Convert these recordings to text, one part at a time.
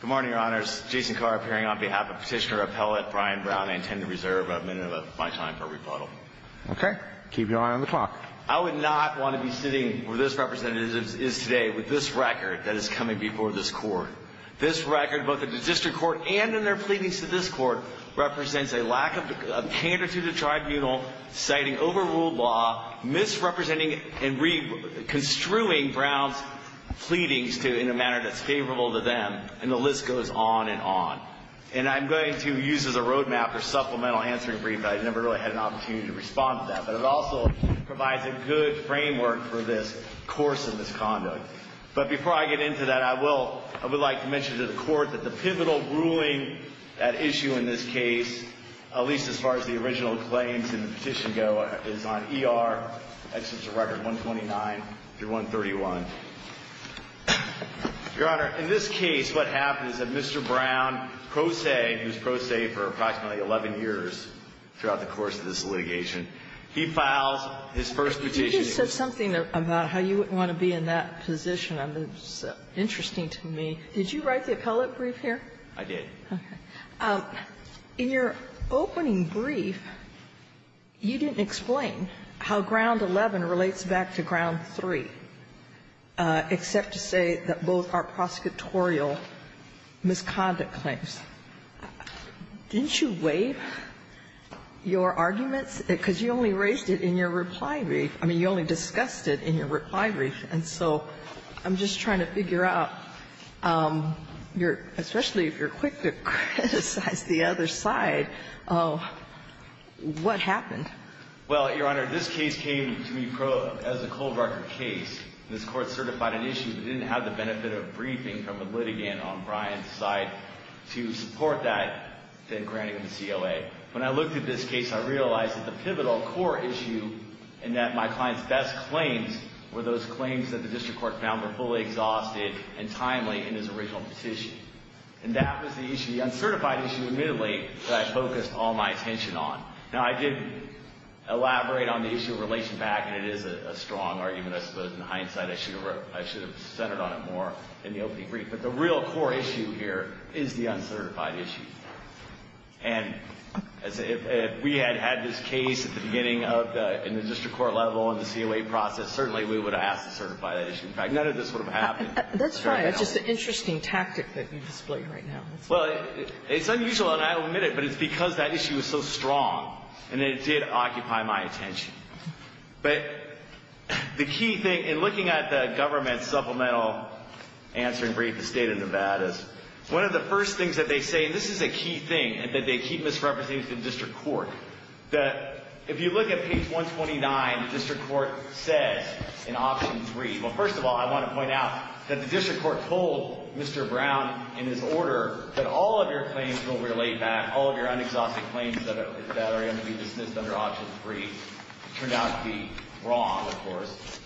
Good morning, your honors. Jason Carr appearing on behalf of Petitioner Appellate Brian Brown. I intend to reserve a minute of my time for rebuttal. Okay. Keep your eye on the clock. I would not want to be sitting where this representative is today with this record that is coming before this court. This record, both in the district court and in their pleadings to this court, represents a lack of candor to the tribunal, citing overruled law, misrepresenting and construing Brown's pleadings in a manner that's favorable to them. And the list goes on and on. And I'm going to use as a roadmap for supplemental answering briefs. I've never really had an opportunity to respond to that. But it also provides a good framework for this course of misconduct. But before I get into that, I would like to mention to the court that the pivotal ruling at issue in this case, at least as far as the original claims in the petition go, is on ER, records 129 through 131. Your Honor, in this case, what happens is that Mr. Brown, pro se, who is pro se for approximately 11 years throughout the course of this litigation, he files his first petition. You just said something about how you wouldn't want to be in that position. It's interesting to me. Did you write the appellate brief here? I did. Okay. In your opening brief, you didn't explain how Ground 11 relates back to Ground 3, except to say that both are prosecutorial misconduct claims. Didn't you waive your arguments? Because you only raised it in your reply brief. I mean, you only discussed it in your reply brief. And so I'm just trying to figure out, especially if you're quick to criticize the other side, what happened? Well, Your Honor, this case came to me as a cold record case. This Court certified an issue that didn't have the benefit of briefing from a litigant on Brian's side to support that, then granting him the COA. When I looked at this case, I realized that the pivotal core issue and that my client's best claims were those claims that the district court found were fully exhausted and timely in his original petition. And that was the issue, the uncertified issue, admittedly, that I focused all my attention on. Now, I did elaborate on the issue of relation back, and it is a strong argument, I suppose. In hindsight, I should have centered on it more in the opening brief. But the real core issue here is the uncertified issue. And if we had had this case at the beginning in the district court level in the COA process, certainly we would have asked to certify that issue. In fact, none of this would have happened. That's right. It's just an interesting tactic that you displayed right now. Well, it's unusual, and I'll admit it, but it's because that issue is so strong, and it did occupy my attention. But the key thing, in looking at the government's supplemental answering brief, the state of Nevada's, one of the first things that they say, and this is a key thing that they keep misrepresenting to the district court, that if you look at page 129, the district court says in option three, well, first of all, I want to point out that the district court told Mr. Brown, in his order, that all of your claims will be laid back, all of your unexhausted claims that are going to be dismissed under option three. It turned out to be wrong, of course.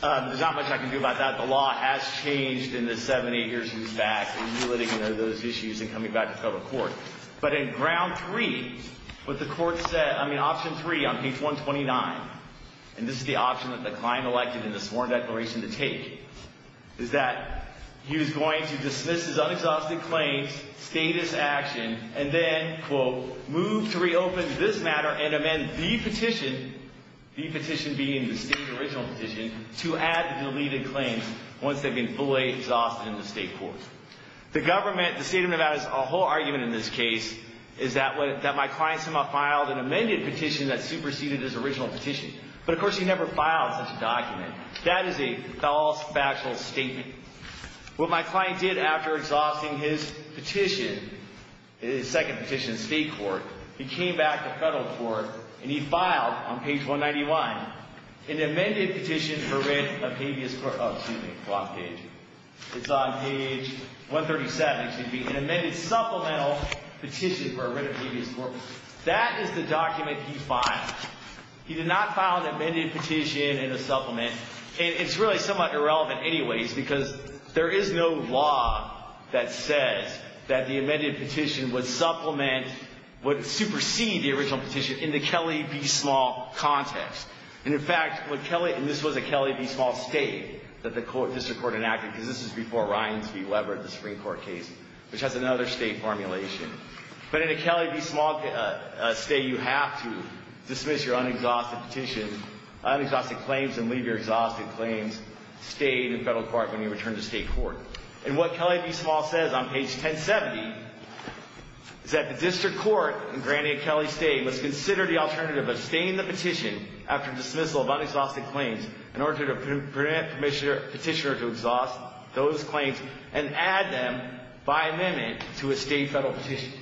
There's not much I can do about that. The law has changed in the seven, eight years he's back in dealing with those issues and coming back to federal court. But in ground three, what the court said, I mean, option three on page 129, and this is the option that the client elected in the sworn declaration to take, is that he was going to dismiss his unexhausted claims, status action, and then, quote, move to reopen this matter and amend the petition, the petition being the state original petition, to add deleted claims once they've been fully exhausted in the state court. The government, the state of Nevada's whole argument in this case is that my client somehow filed an amended petition that superseded his original petition. But, of course, he never filed such a document. That is a false factual statement. What my client did after exhausting his petition, his second petition in state court, he came back to federal court and he filed, on page 191, an amended petition for writ of habeas corpus. Oh, excuse me, wrong page. It's on page 137, excuse me, an amended supplemental petition for a writ of habeas corpus. That is the document he filed. He did not file an amended petition in a supplement. And it's really somewhat irrelevant anyways because there is no law that says that the amended petition would supplement, would supersede the original petition in the Kelly v. Small context. And, in fact, when Kelly, and this was a Kelly v. Small state that the court, district court enacted, because this is before Ryan v. Weber, the Supreme Court case, which has another state formulation. But in a Kelly v. Small state, you have to dismiss your unexhausted claims and leave your exhausted claims to stay in the federal court when you return to state court. And what Kelly v. Small says on page 1070 is that the district court, in granting a Kelly state, must consider the alternative of staying in the petition after dismissal of unexhausted claims in order to permit petitioner to exhaust those claims and add them by amendment to a state federal petition.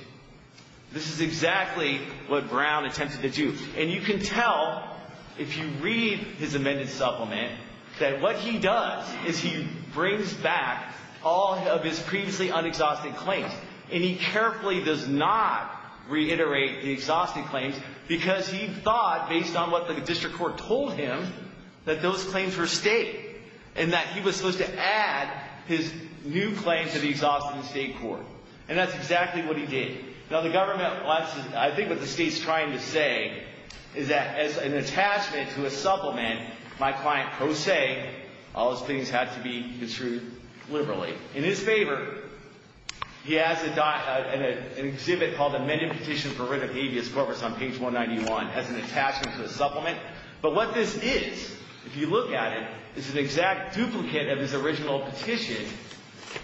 This is exactly what Brown attempted to do. And you can tell if you read his amended supplement that what he does is he brings back all of his previously unexhausted claims. And he carefully does not reiterate the exhausted claims because he thought, based on what the district court told him, that those claims were state and that he was supposed to add his new claims to the exhausted state court. And that's exactly what he did. Now, the government, I think what the state's trying to say is that as an attachment to a supplement, my client pro se, all those things had to be construed liberally. In his favor, he has an exhibit called the amended petition for writ of habeas corpus on page 191 as an attachment to a supplement. But what this is, if you look at it, is an exact duplicate of his original petition,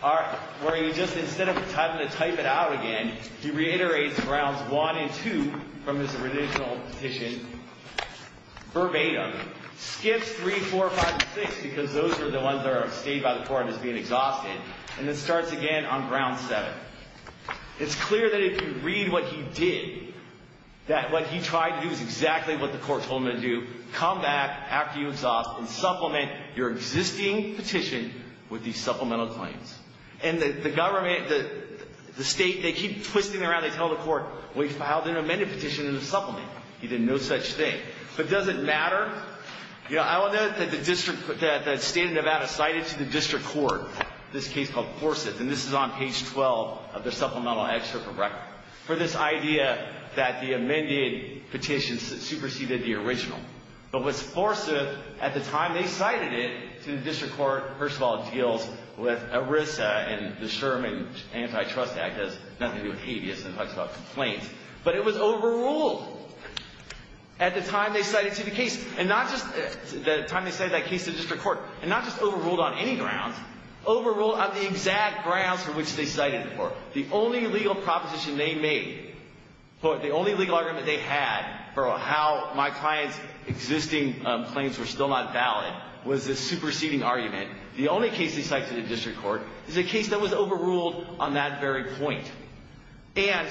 where he just, instead of having to type it out again, he reiterates rounds one and two from his original petition verbatim, skips three, four, five, and six because those are the ones that are stated by the court as being exhausted, and then starts again on round seven. It's clear that if you read what he did, that what he tried to do is exactly what the court told him to do, come back after you exhaust and supplement your existing petition with these supplemental claims. And the government, the state, they keep twisting it around. They tell the court, we filed an amended petition in the supplement. He did no such thing. But does it matter? You know, I will note that the state of Nevada cited to the district court this case called Forsyth, and this is on page 12 of their supplemental excerpt for record, for this idea that the amended petition superseded the original. But with Forsyth, at the time they cited it to the district court, first of all, it deals with ERISA and the Sherman Antitrust Act as nothing to do with habeas and talks about complaints. But it was overruled. At the time they cited to the case, and not just the time they cited that case to the district court, and not just overruled on any grounds, overruled on the exact grounds for which they cited it. The only legal proposition they made, the only legal argument they had for how my client's existing claims were still not valid was this superseding argument. The only case they cited to the district court is a case that was overruled on that very point. And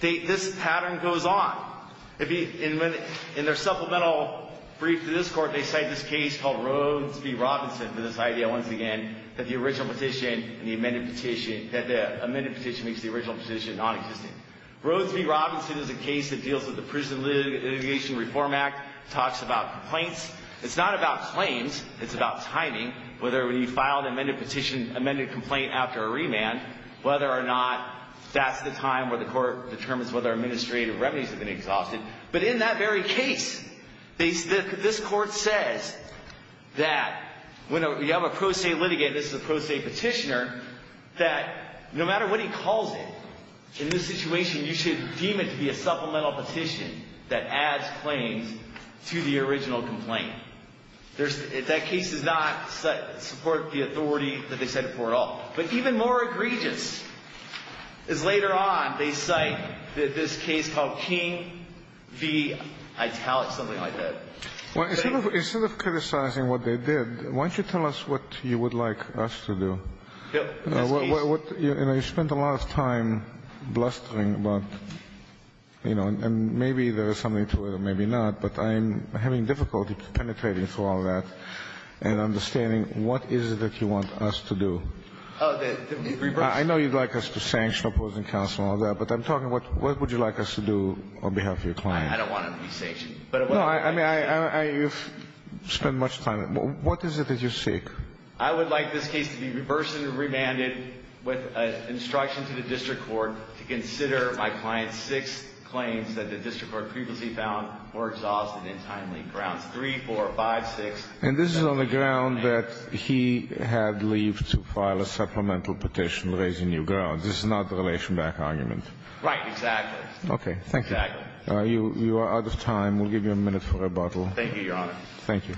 this pattern goes on. In their supplemental brief to this court, they cite this case called Rhodes v. Robinson for this idea, once again, that the amended petition makes the original petition nonexistent. Rhodes v. Robinson is a case that deals with the Prison Litigation Reform Act. It talks about complaints. It's not about claims. It's about timing, whether you filed an amended petition, amended complaint after a remand, whether or not that's the time where the court determines whether administrative remedies have been exhausted. But in that very case, this court says that when you have a pro se litigant, this is a pro se petitioner, that no matter what he calls it, in this situation you should deem it to be a supplemental petition that adds claims to the original complaint. That case does not support the authority that they cited before at all. But even more egregious is later on they cite this case called King v. Italic, something like that. Instead of criticizing what they did, why don't you tell us what you would like us to do? You know, you spent a lot of time blustering about, you know, and maybe there is something to it or maybe not, but I'm having difficulty penetrating through all of that and understanding what is it that you want us to do? I know you'd like us to sanction opposing counsel and all that, but I'm talking what would you like us to do on behalf of your client? I don't want to be sanctioned. No, I mean, you've spent much time. What is it that you seek? I would like this case to be reversed and remanded with an instruction to the district court to consider my client's six claims that the district court previously found were exhausted in timely grounds. Three, four, five, six. And this is on the ground that he had leave to file a supplemental petition raising new grounds. This is not the relation back argument. Right, exactly. Okay. Thank you. You are out of time. We'll give you a minute for rebuttal. Thank you, Your Honor. Thank you.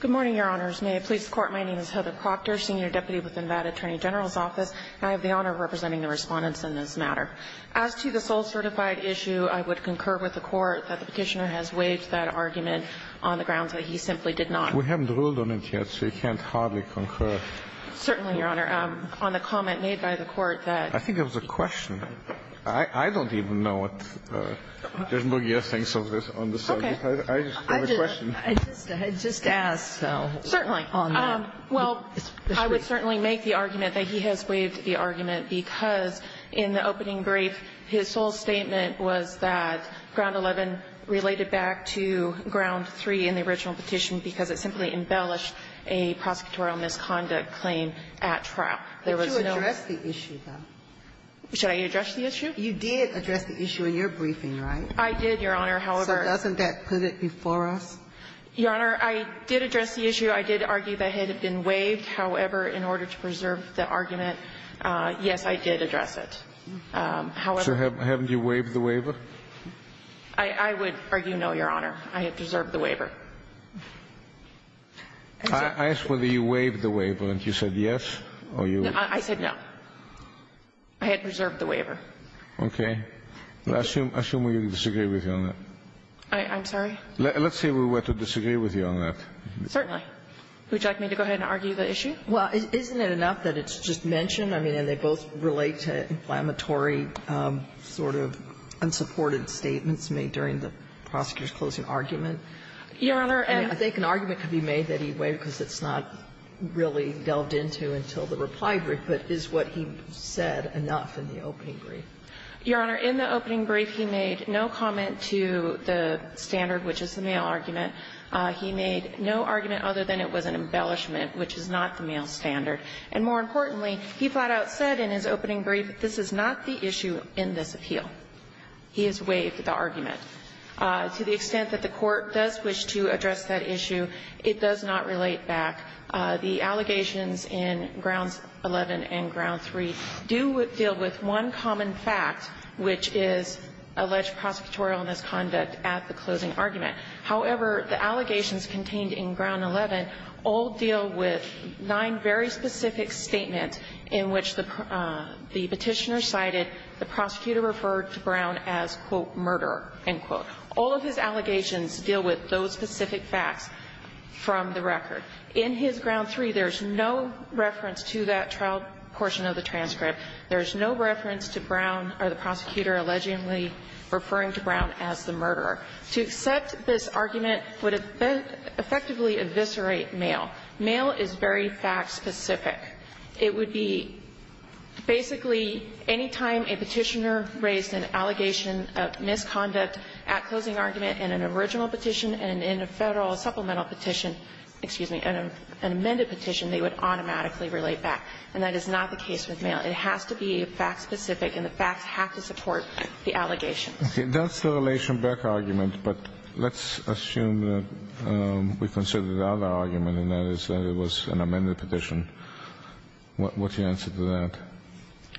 Good morning, Your Honors. May it please the Court, my name is Heather Proctor, Senior Deputy with Nevada Attorney General's Office, and I have the honor of representing the Respondents in this matter. As to the sole certified issue, I would concur with the Court that the Petitioner has waived that argument on the grounds that he simply did not. We haven't ruled on it yet, so you can't hardly concur. Certainly, Your Honor. On the comment made by the Court that the Petitioner did not. I think it was a question. I don't even know what Judge McGeer thinks of this on the subject. Okay. I just have a question. I just asked, so. Certainly. Well, I would certainly make the argument that he has waived the argument because in the opening brief, his sole statement was that Ground 11 related back to Ground 3 in the original petition because it simply embellished a prosecutorial misconduct claim at trial. There was no. But you addressed the issue, though. Should I address the issue? You did address the issue in your briefing, right? I did, Your Honor, however. So doesn't that put it before us? Your Honor, I did address the issue. I did argue that it had been waived. However, in order to preserve the argument, yes, I did address it. However. So haven't you waived the waiver? I would argue no, Your Honor. I had preserved the waiver. I asked whether you waived the waiver, and you said yes, or you. I said no. I had preserved the waiver. Okay. Well, assume we disagree with you on that. I'm sorry? Let's say we were to disagree with you on that. Certainly. Would you like me to go ahead and argue the issue? Well, isn't it enough that it's just mentioned? I mean, and they both relate to inflammatory sort of unsupported statements made during the prosecutor's closing argument. Your Honor, and. I think an argument could be made that he waived because it's not really delved into until the reply brief, but is what he said enough in the opening brief? Your Honor, in the opening brief, he made no comment to the standard, which is the male argument. He made no argument other than it was an embellishment, which is not the male standard. And more importantly, he flat out said in his opening brief, this is not the issue in this appeal. He has waived the argument. To the extent that the Court does wish to address that issue, it does not relate back. The allegations in Grounds 11 and Ground 3 do deal with one common fact, which is alleged prosecutorial misconduct at the closing argument. However, the allegations contained in Ground 11 all deal with nine very specific statements in which the Petitioner cited the prosecutor referred to Brown as, quote, murderer, end quote. All of his allegations deal with those specific facts from the record. In his Ground 3, there's no reference to that trial portion of the transcript. There's no reference to Brown or the prosecutor allegedly referring to Brown as the murderer. To accept this argument would effectively eviscerate male. Male is very fact-specific. It would be basically any time a Petitioner raised an allegation of misconduct at closing argument in an original petition and in a Federal supplemental petition, excuse me, an amended petition, they would automatically relate back. And that is not the case with male. It has to be fact-specific, and the facts have to support the allegations. That's the relation back argument, but let's assume that we consider the other argument, and that is that it was an amended petition. What's your answer to that?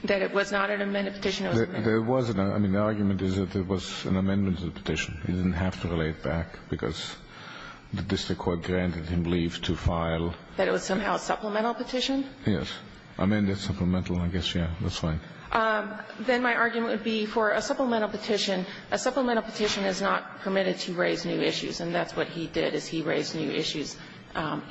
That it was not an amended petition. It was an amended petition. I mean, the argument is that it was an amended petition. It didn't have to relate back because the district court granted him leave to file. That it was somehow a supplemental petition? Yes. Amended supplemental, I guess, yeah. That's right. Then my argument would be for a supplemental petition. A supplemental petition is not permitted to raise new issues, and that's what he did is he raised new issues.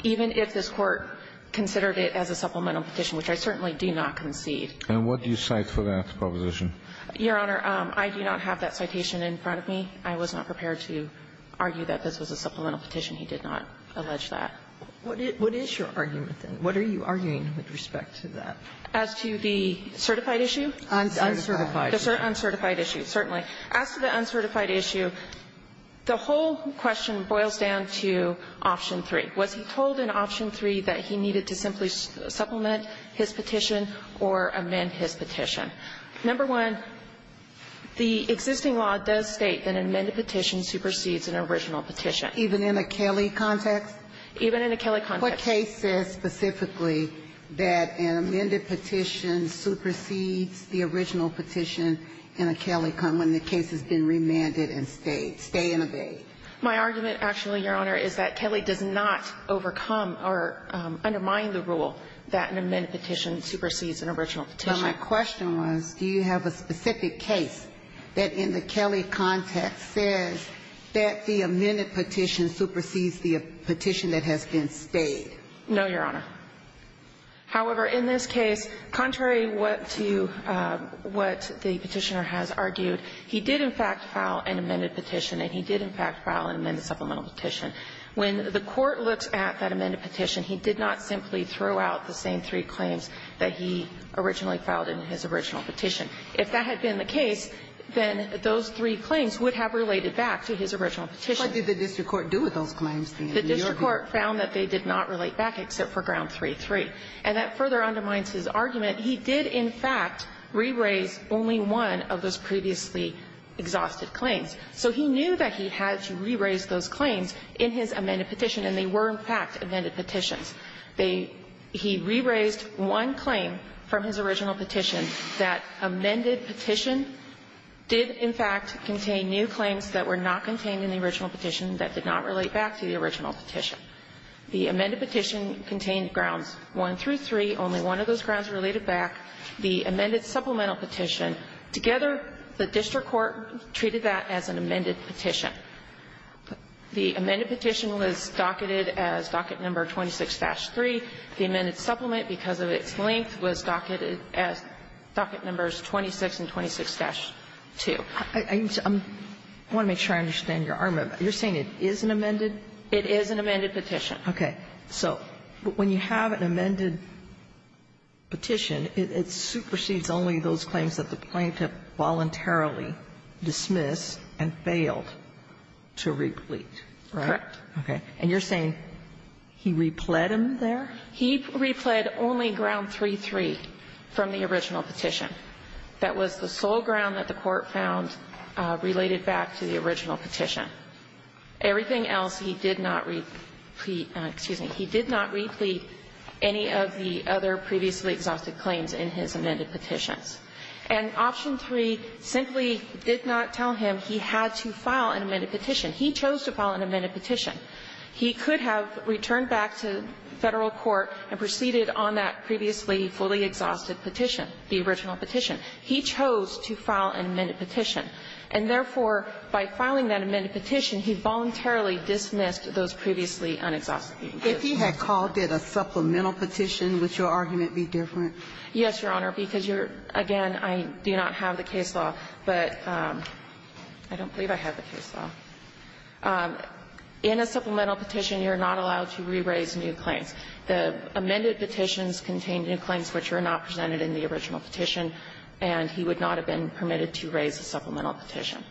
Even if this Court considered it as a supplemental petition, which I certainly do not concede. And what do you cite for that proposition? Your Honor, I do not have that citation in front of me. I was not prepared to argue that this was a supplemental petition. He did not allege that. What is your argument then? What are you arguing with respect to that? As to the certified issue? Uncertified. Uncertified issue, certainly. As to the uncertified issue, the whole question boils down to option 3. Was he told in option 3 that he needed to simply supplement his petition or amend his petition? Number one, the existing law does state that an amended petition supersedes an original petition. Even in a Kelly context? Even in a Kelly context. What case says specifically that an amended petition supersedes the original petition in a Kelly context when the case has been remanded and stayed? Stay and abate? My argument, actually, Your Honor, is that Kelly does not overcome or undermine the rule that an amended petition supersedes an original petition. But my question was, do you have a specific case that in the Kelly context says that the amended petition supersedes the petition that has been stayed? No, Your Honor. However, in this case, contrary to what the petitioner has argued, he did in fact file an amended petition and he did in fact file an amended supplemental petition. When the Court looks at that amended petition, he did not simply throw out the same three claims that he originally filed in his original petition. If that had been the case, then those three claims would have related back to his original petition. What did the district court do with those claims? The district court found that they did not relate back except for ground 3-3. And that further undermines his argument. He did in fact re-raise only one of those previously exhausted claims. So he knew that he had to re-raise those claims in his amended petition, and they were in fact amended petitions. They he re-raised one claim from his original petition that amended petition did in fact contain new claims that were not contained in the original petition that did not relate back to the original petition. The amended petition contained grounds 1-3. Only one of those grounds related back. The amended supplemental petition, together, the district court treated that as an amended petition. The amended petition was docketed as docket number 26-3. The amended supplement, because of its length, was docketed as docket numbers 26 and 26-2. I want to make sure I understand your argument. You're saying it is an amended? It is an amended petition. Okay. So when you have an amended petition, it supersedes only those claims that the plaintiff voluntarily dismissed and failed. To replete. Correct. Okay. And you're saying he repled him there? He repled only ground 3-3 from the original petition. That was the sole ground that the court found related back to the original petition. Everything else he did not replete any of the other previously exhausted claims in his amended petitions. And option 3 simply did not tell him he had to file an amended petition. He chose to file an amended petition. He could have returned back to Federal court and proceeded on that previously fully exhausted petition, the original petition. He chose to file an amended petition. And therefore, by filing that amended petition, he voluntarily dismissed those previously unexhausted claims. If he had called it a supplemental petition, would your argument be different? Yes, Your Honor, because you're, again, I do not have the case law, but I don't believe I have the case law. In a supplemental petition, you're not allowed to re-raise new claims. The amended petitions contain new claims which were not presented in the original petition, and he would not have been permitted to raise a supplemental petition.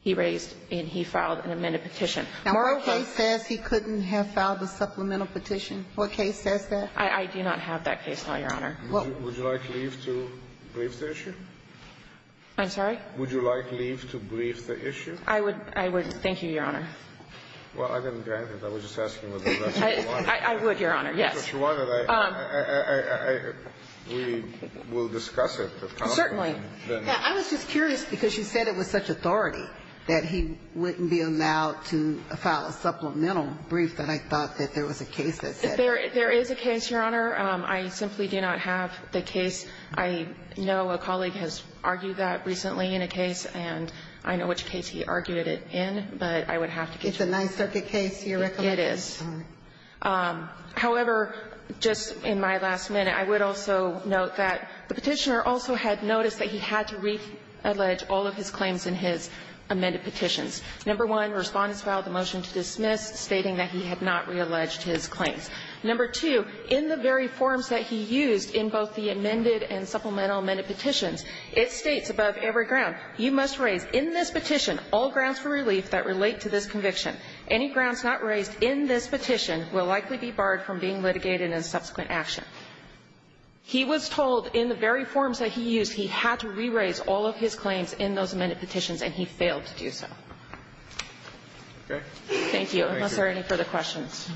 He raised and he filed an amended petition. Now, what case says he couldn't have filed a supplemental petition? What case says that? I do not have that case law, Your Honor. Would you like leave to brief the issue? I'm sorry? Would you like leave to brief the issue? I would. Thank you, Your Honor. Well, I didn't grant it. I was just asking whether that's what you wanted. I would, Your Honor, yes. If that's what you wanted, we will discuss it. Certainly. I was just curious, because you said it was such authority that he wouldn't be allowed to file a supplemental brief that I thought that there was a case that said that. There is a case, Your Honor. I simply do not have the case. I know a colleague has argued that recently in a case, and I know which case he argued it in, but I would have to give you that. It's a Ninth Circuit case. It is. However, just in my last minute, I would also note that the Petitioner also had noticed that he had to reallege all of his claims in his amended petitions. Number one, Respondents filed a motion to dismiss stating that he had not realleged his claims. Number two, in the very forms that he used in both the amended and supplemental amended petitions, it states above every ground, you must raise in this petition all grounds for relief that relate to this conviction. Any grounds not raised in this petition will likely be barred from being litigated in subsequent action. He was told in the very forms that he used he had to re-raise all of his claims in those amended petitions, and he failed to do so. Okay. Thank you. Unless there are any further questions.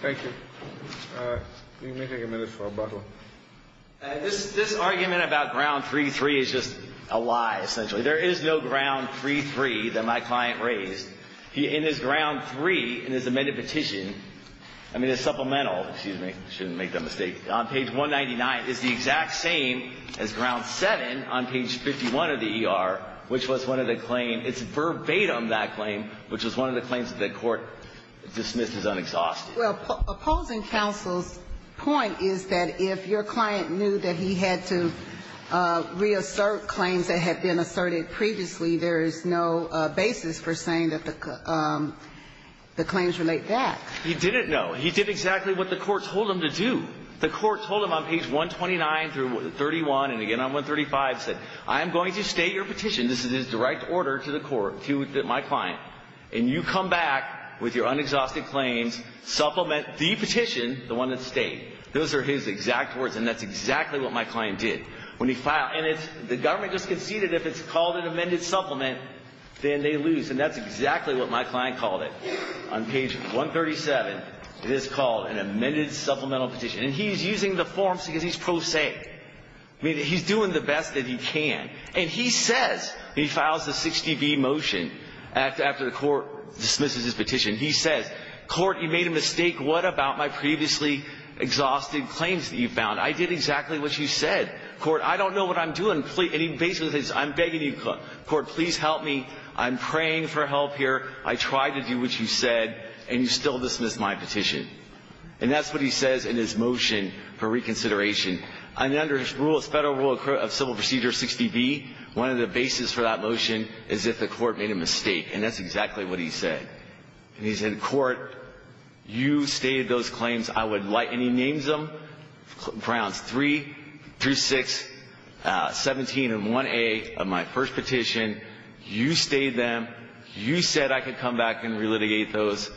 Thank you. We may take a minute for rebuttal. This argument about ground 3-3 is just a lie, essentially. There is no ground 3-3 that my client raised. In his ground 3 in his amended petition, I mean, the supplemental, excuse me, I shouldn't make that mistake, on page 199 is the exact same as ground 7 on page 51 of the ER, which was one of the claims. It's verbatim that claim, which was one of the claims that the Court dismissed as unexhausted. Well, opposing counsel's point is that if your client knew that he had to reassert claims that had been asserted previously, there is no basis for saying that the claims relate back. He didn't know. He did exactly what the Court told him to do. The Court told him on page 129 through 31, and again on 135, said, I am going to state your petition. This is in direct order to the Court, to my client, and you come back with your unexhausted claims, supplement the petition, the one that stayed. Those are his exact words, and that's exactly what my client did. When he filed, and it's, the government just conceded if it's called an amended supplement, then they lose, and that's exactly what my client called it. On page 137, it is called an amended supplemental petition, and he's using the forms because he's pro se. I mean, he's doing the best that he can, and he says, he files the 60B motion after the Court dismisses his petition. He says, Court, you made a mistake. What about my previously exhausted claims that you found? I did exactly what you said. Court, I don't know what I'm doing. And he basically says, I'm begging you, Court, please help me. I'm praying for help here. I tried to do what you said, and you still dismissed my petition. And that's what he says in his motion for reconsideration. Under Federal Rule of Civil Procedure 60B, one of the bases for that motion is if the Court made a mistake, and that's exactly what he said. And he said, Court, you stated those claims. I would like, and he names them, Grounds 3 through 6, 17 and 1A of my first petition. You stated them. You said I could come back and relitigate those.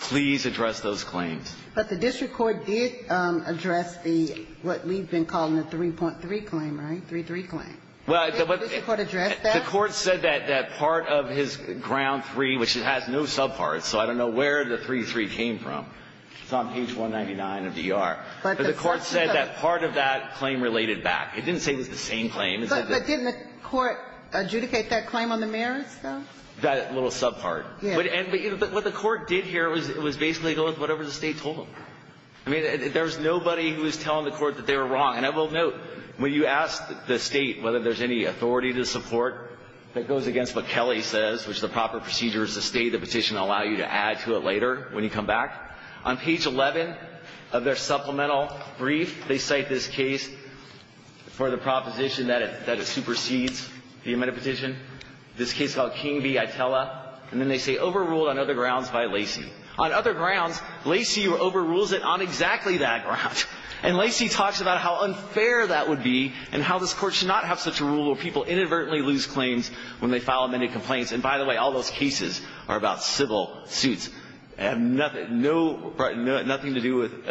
Please address those claims. But the district court did address the, what we've been calling the 3.3 claim, right, 3.3 claim. Did the district court address that? The court said that part of his Ground 3, which it has no subparts, so I don't know where the 3.3 came from. It's on page 199 of the ER. But the court said that part of that claim related back. It didn't say it was the same claim. But didn't the court adjudicate that claim on the merits, though? That little subpart. Yes. But what the court did here was basically go with whatever the State told them. I mean, there was nobody who was telling the Court that they were wrong. And I will note, when you ask the State whether there's any authority to support that goes against what Kelly says, which the proper procedure is to state the petition and allow you to add to it later when you come back. On page 11 of their supplemental brief, they cite this case for the proposition that it supersedes the amended petition, this case called King v. Itella. And then they say overruled on other grounds by Lacey. On other grounds, Lacey overrules it on exactly that ground. And Lacey talks about how unfair that would be and how this Court should not have such a rule where people inadvertently lose claims when they file amended complaints. And, by the way, all those cases are about civil suits. They have nothing to do with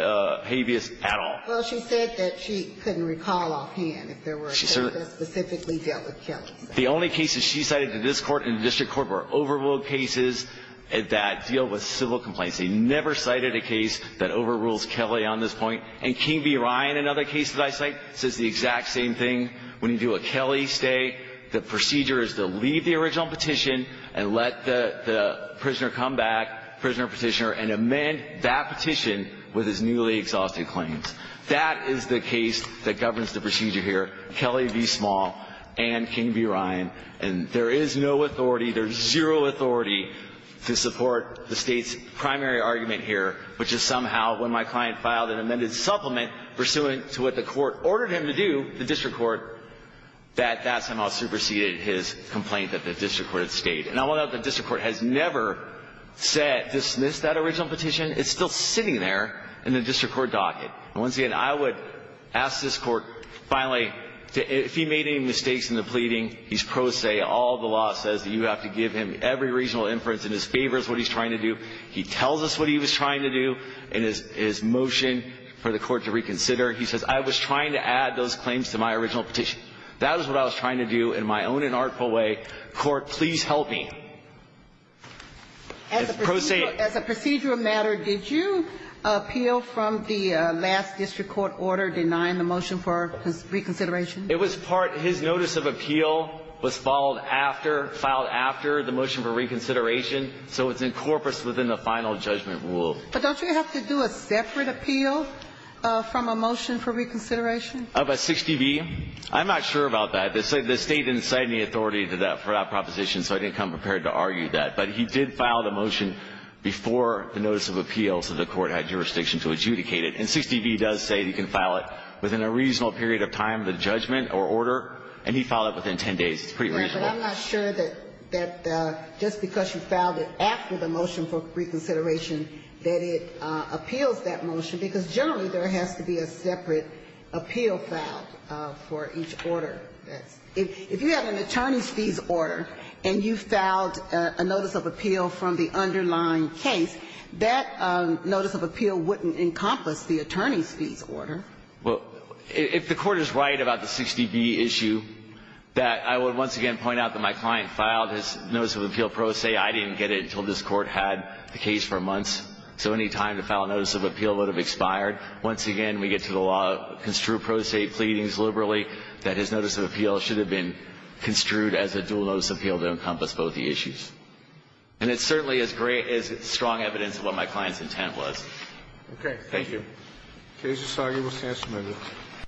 habeas at all. Well, she said that she couldn't recall offhand if there were cases that specifically dealt with Kelly. The only cases she cited in this Court and the District Court were overruled cases that deal with civil complaints. They never cited a case that overrules Kelly on this point. And King v. Ryan, another case that I cite, says the exact same thing. When you do a Kelly stay, the procedure is to leave the original petition and let the prisoner come back, prisoner petitioner, and amend that petition with his newly exhausted claims. That is the case that governs the procedure here, Kelly v. Small and King v. Ryan. And there is no authority, there's zero authority to support the State's primary argument here, which is somehow when my client filed an amended supplement pursuant to what the Court ordered him to do, the District Court, that that somehow superseded his complaint that the District Court had stayed. And I want to note that the District Court has never said dismiss that original petition. It's still sitting there in the District Court docket. And once again, I would ask this Court finally, if he made any mistakes in the pleading, he's pro se. All the law says that you have to give him every reasonable inference in his favor is what he's trying to do. He tells us what he was trying to do in his motion for the Court to reconsider. He says, I was trying to add those claims to my original petition. That is what I was trying to do in my own inartful way. Court, please help me. It's pro se. As a procedural matter, did you appeal from the last District Court order denying the motion for reconsideration? It was part. His notice of appeal was followed after, filed after the motion for reconsideration, so it's in corpus within the final judgment rule. But don't you have to do a separate appeal from a motion for reconsideration? Of a 60B? I'm not sure about that. The State didn't cite any authority for that proposition, so I didn't come prepared to argue that. But he did file the motion before the notice of appeal, so the Court had jurisdiction to adjudicate it. And 60B does say you can file it within a reasonable period of time, the judgment or order, and he filed it within 10 days. It's pretty reasonable. Right, but I'm not sure that just because you filed it after the motion for reconsideration that it appeals that motion, because generally there has to be a separate appeal filed for each order. If you have an attorney's fees order and you filed a notice of appeal from the underlying case, that notice of appeal wouldn't encompass the attorney's fees order. Well, if the Court is right about the 60B issue, that I would once again point out that my client filed his notice of appeal pro se. I didn't get it until this Court had the case for months. So any time to file a notice of appeal would have expired. Once again, we get to the law construed pro se pleadings liberally that his notice of appeal should have been construed as a dual notice of appeal that encompassed both the issues. And it's certainly as great as strong evidence of what my client's intent was. Okay. Thank you. Thank you. The case is argued with the answer amended.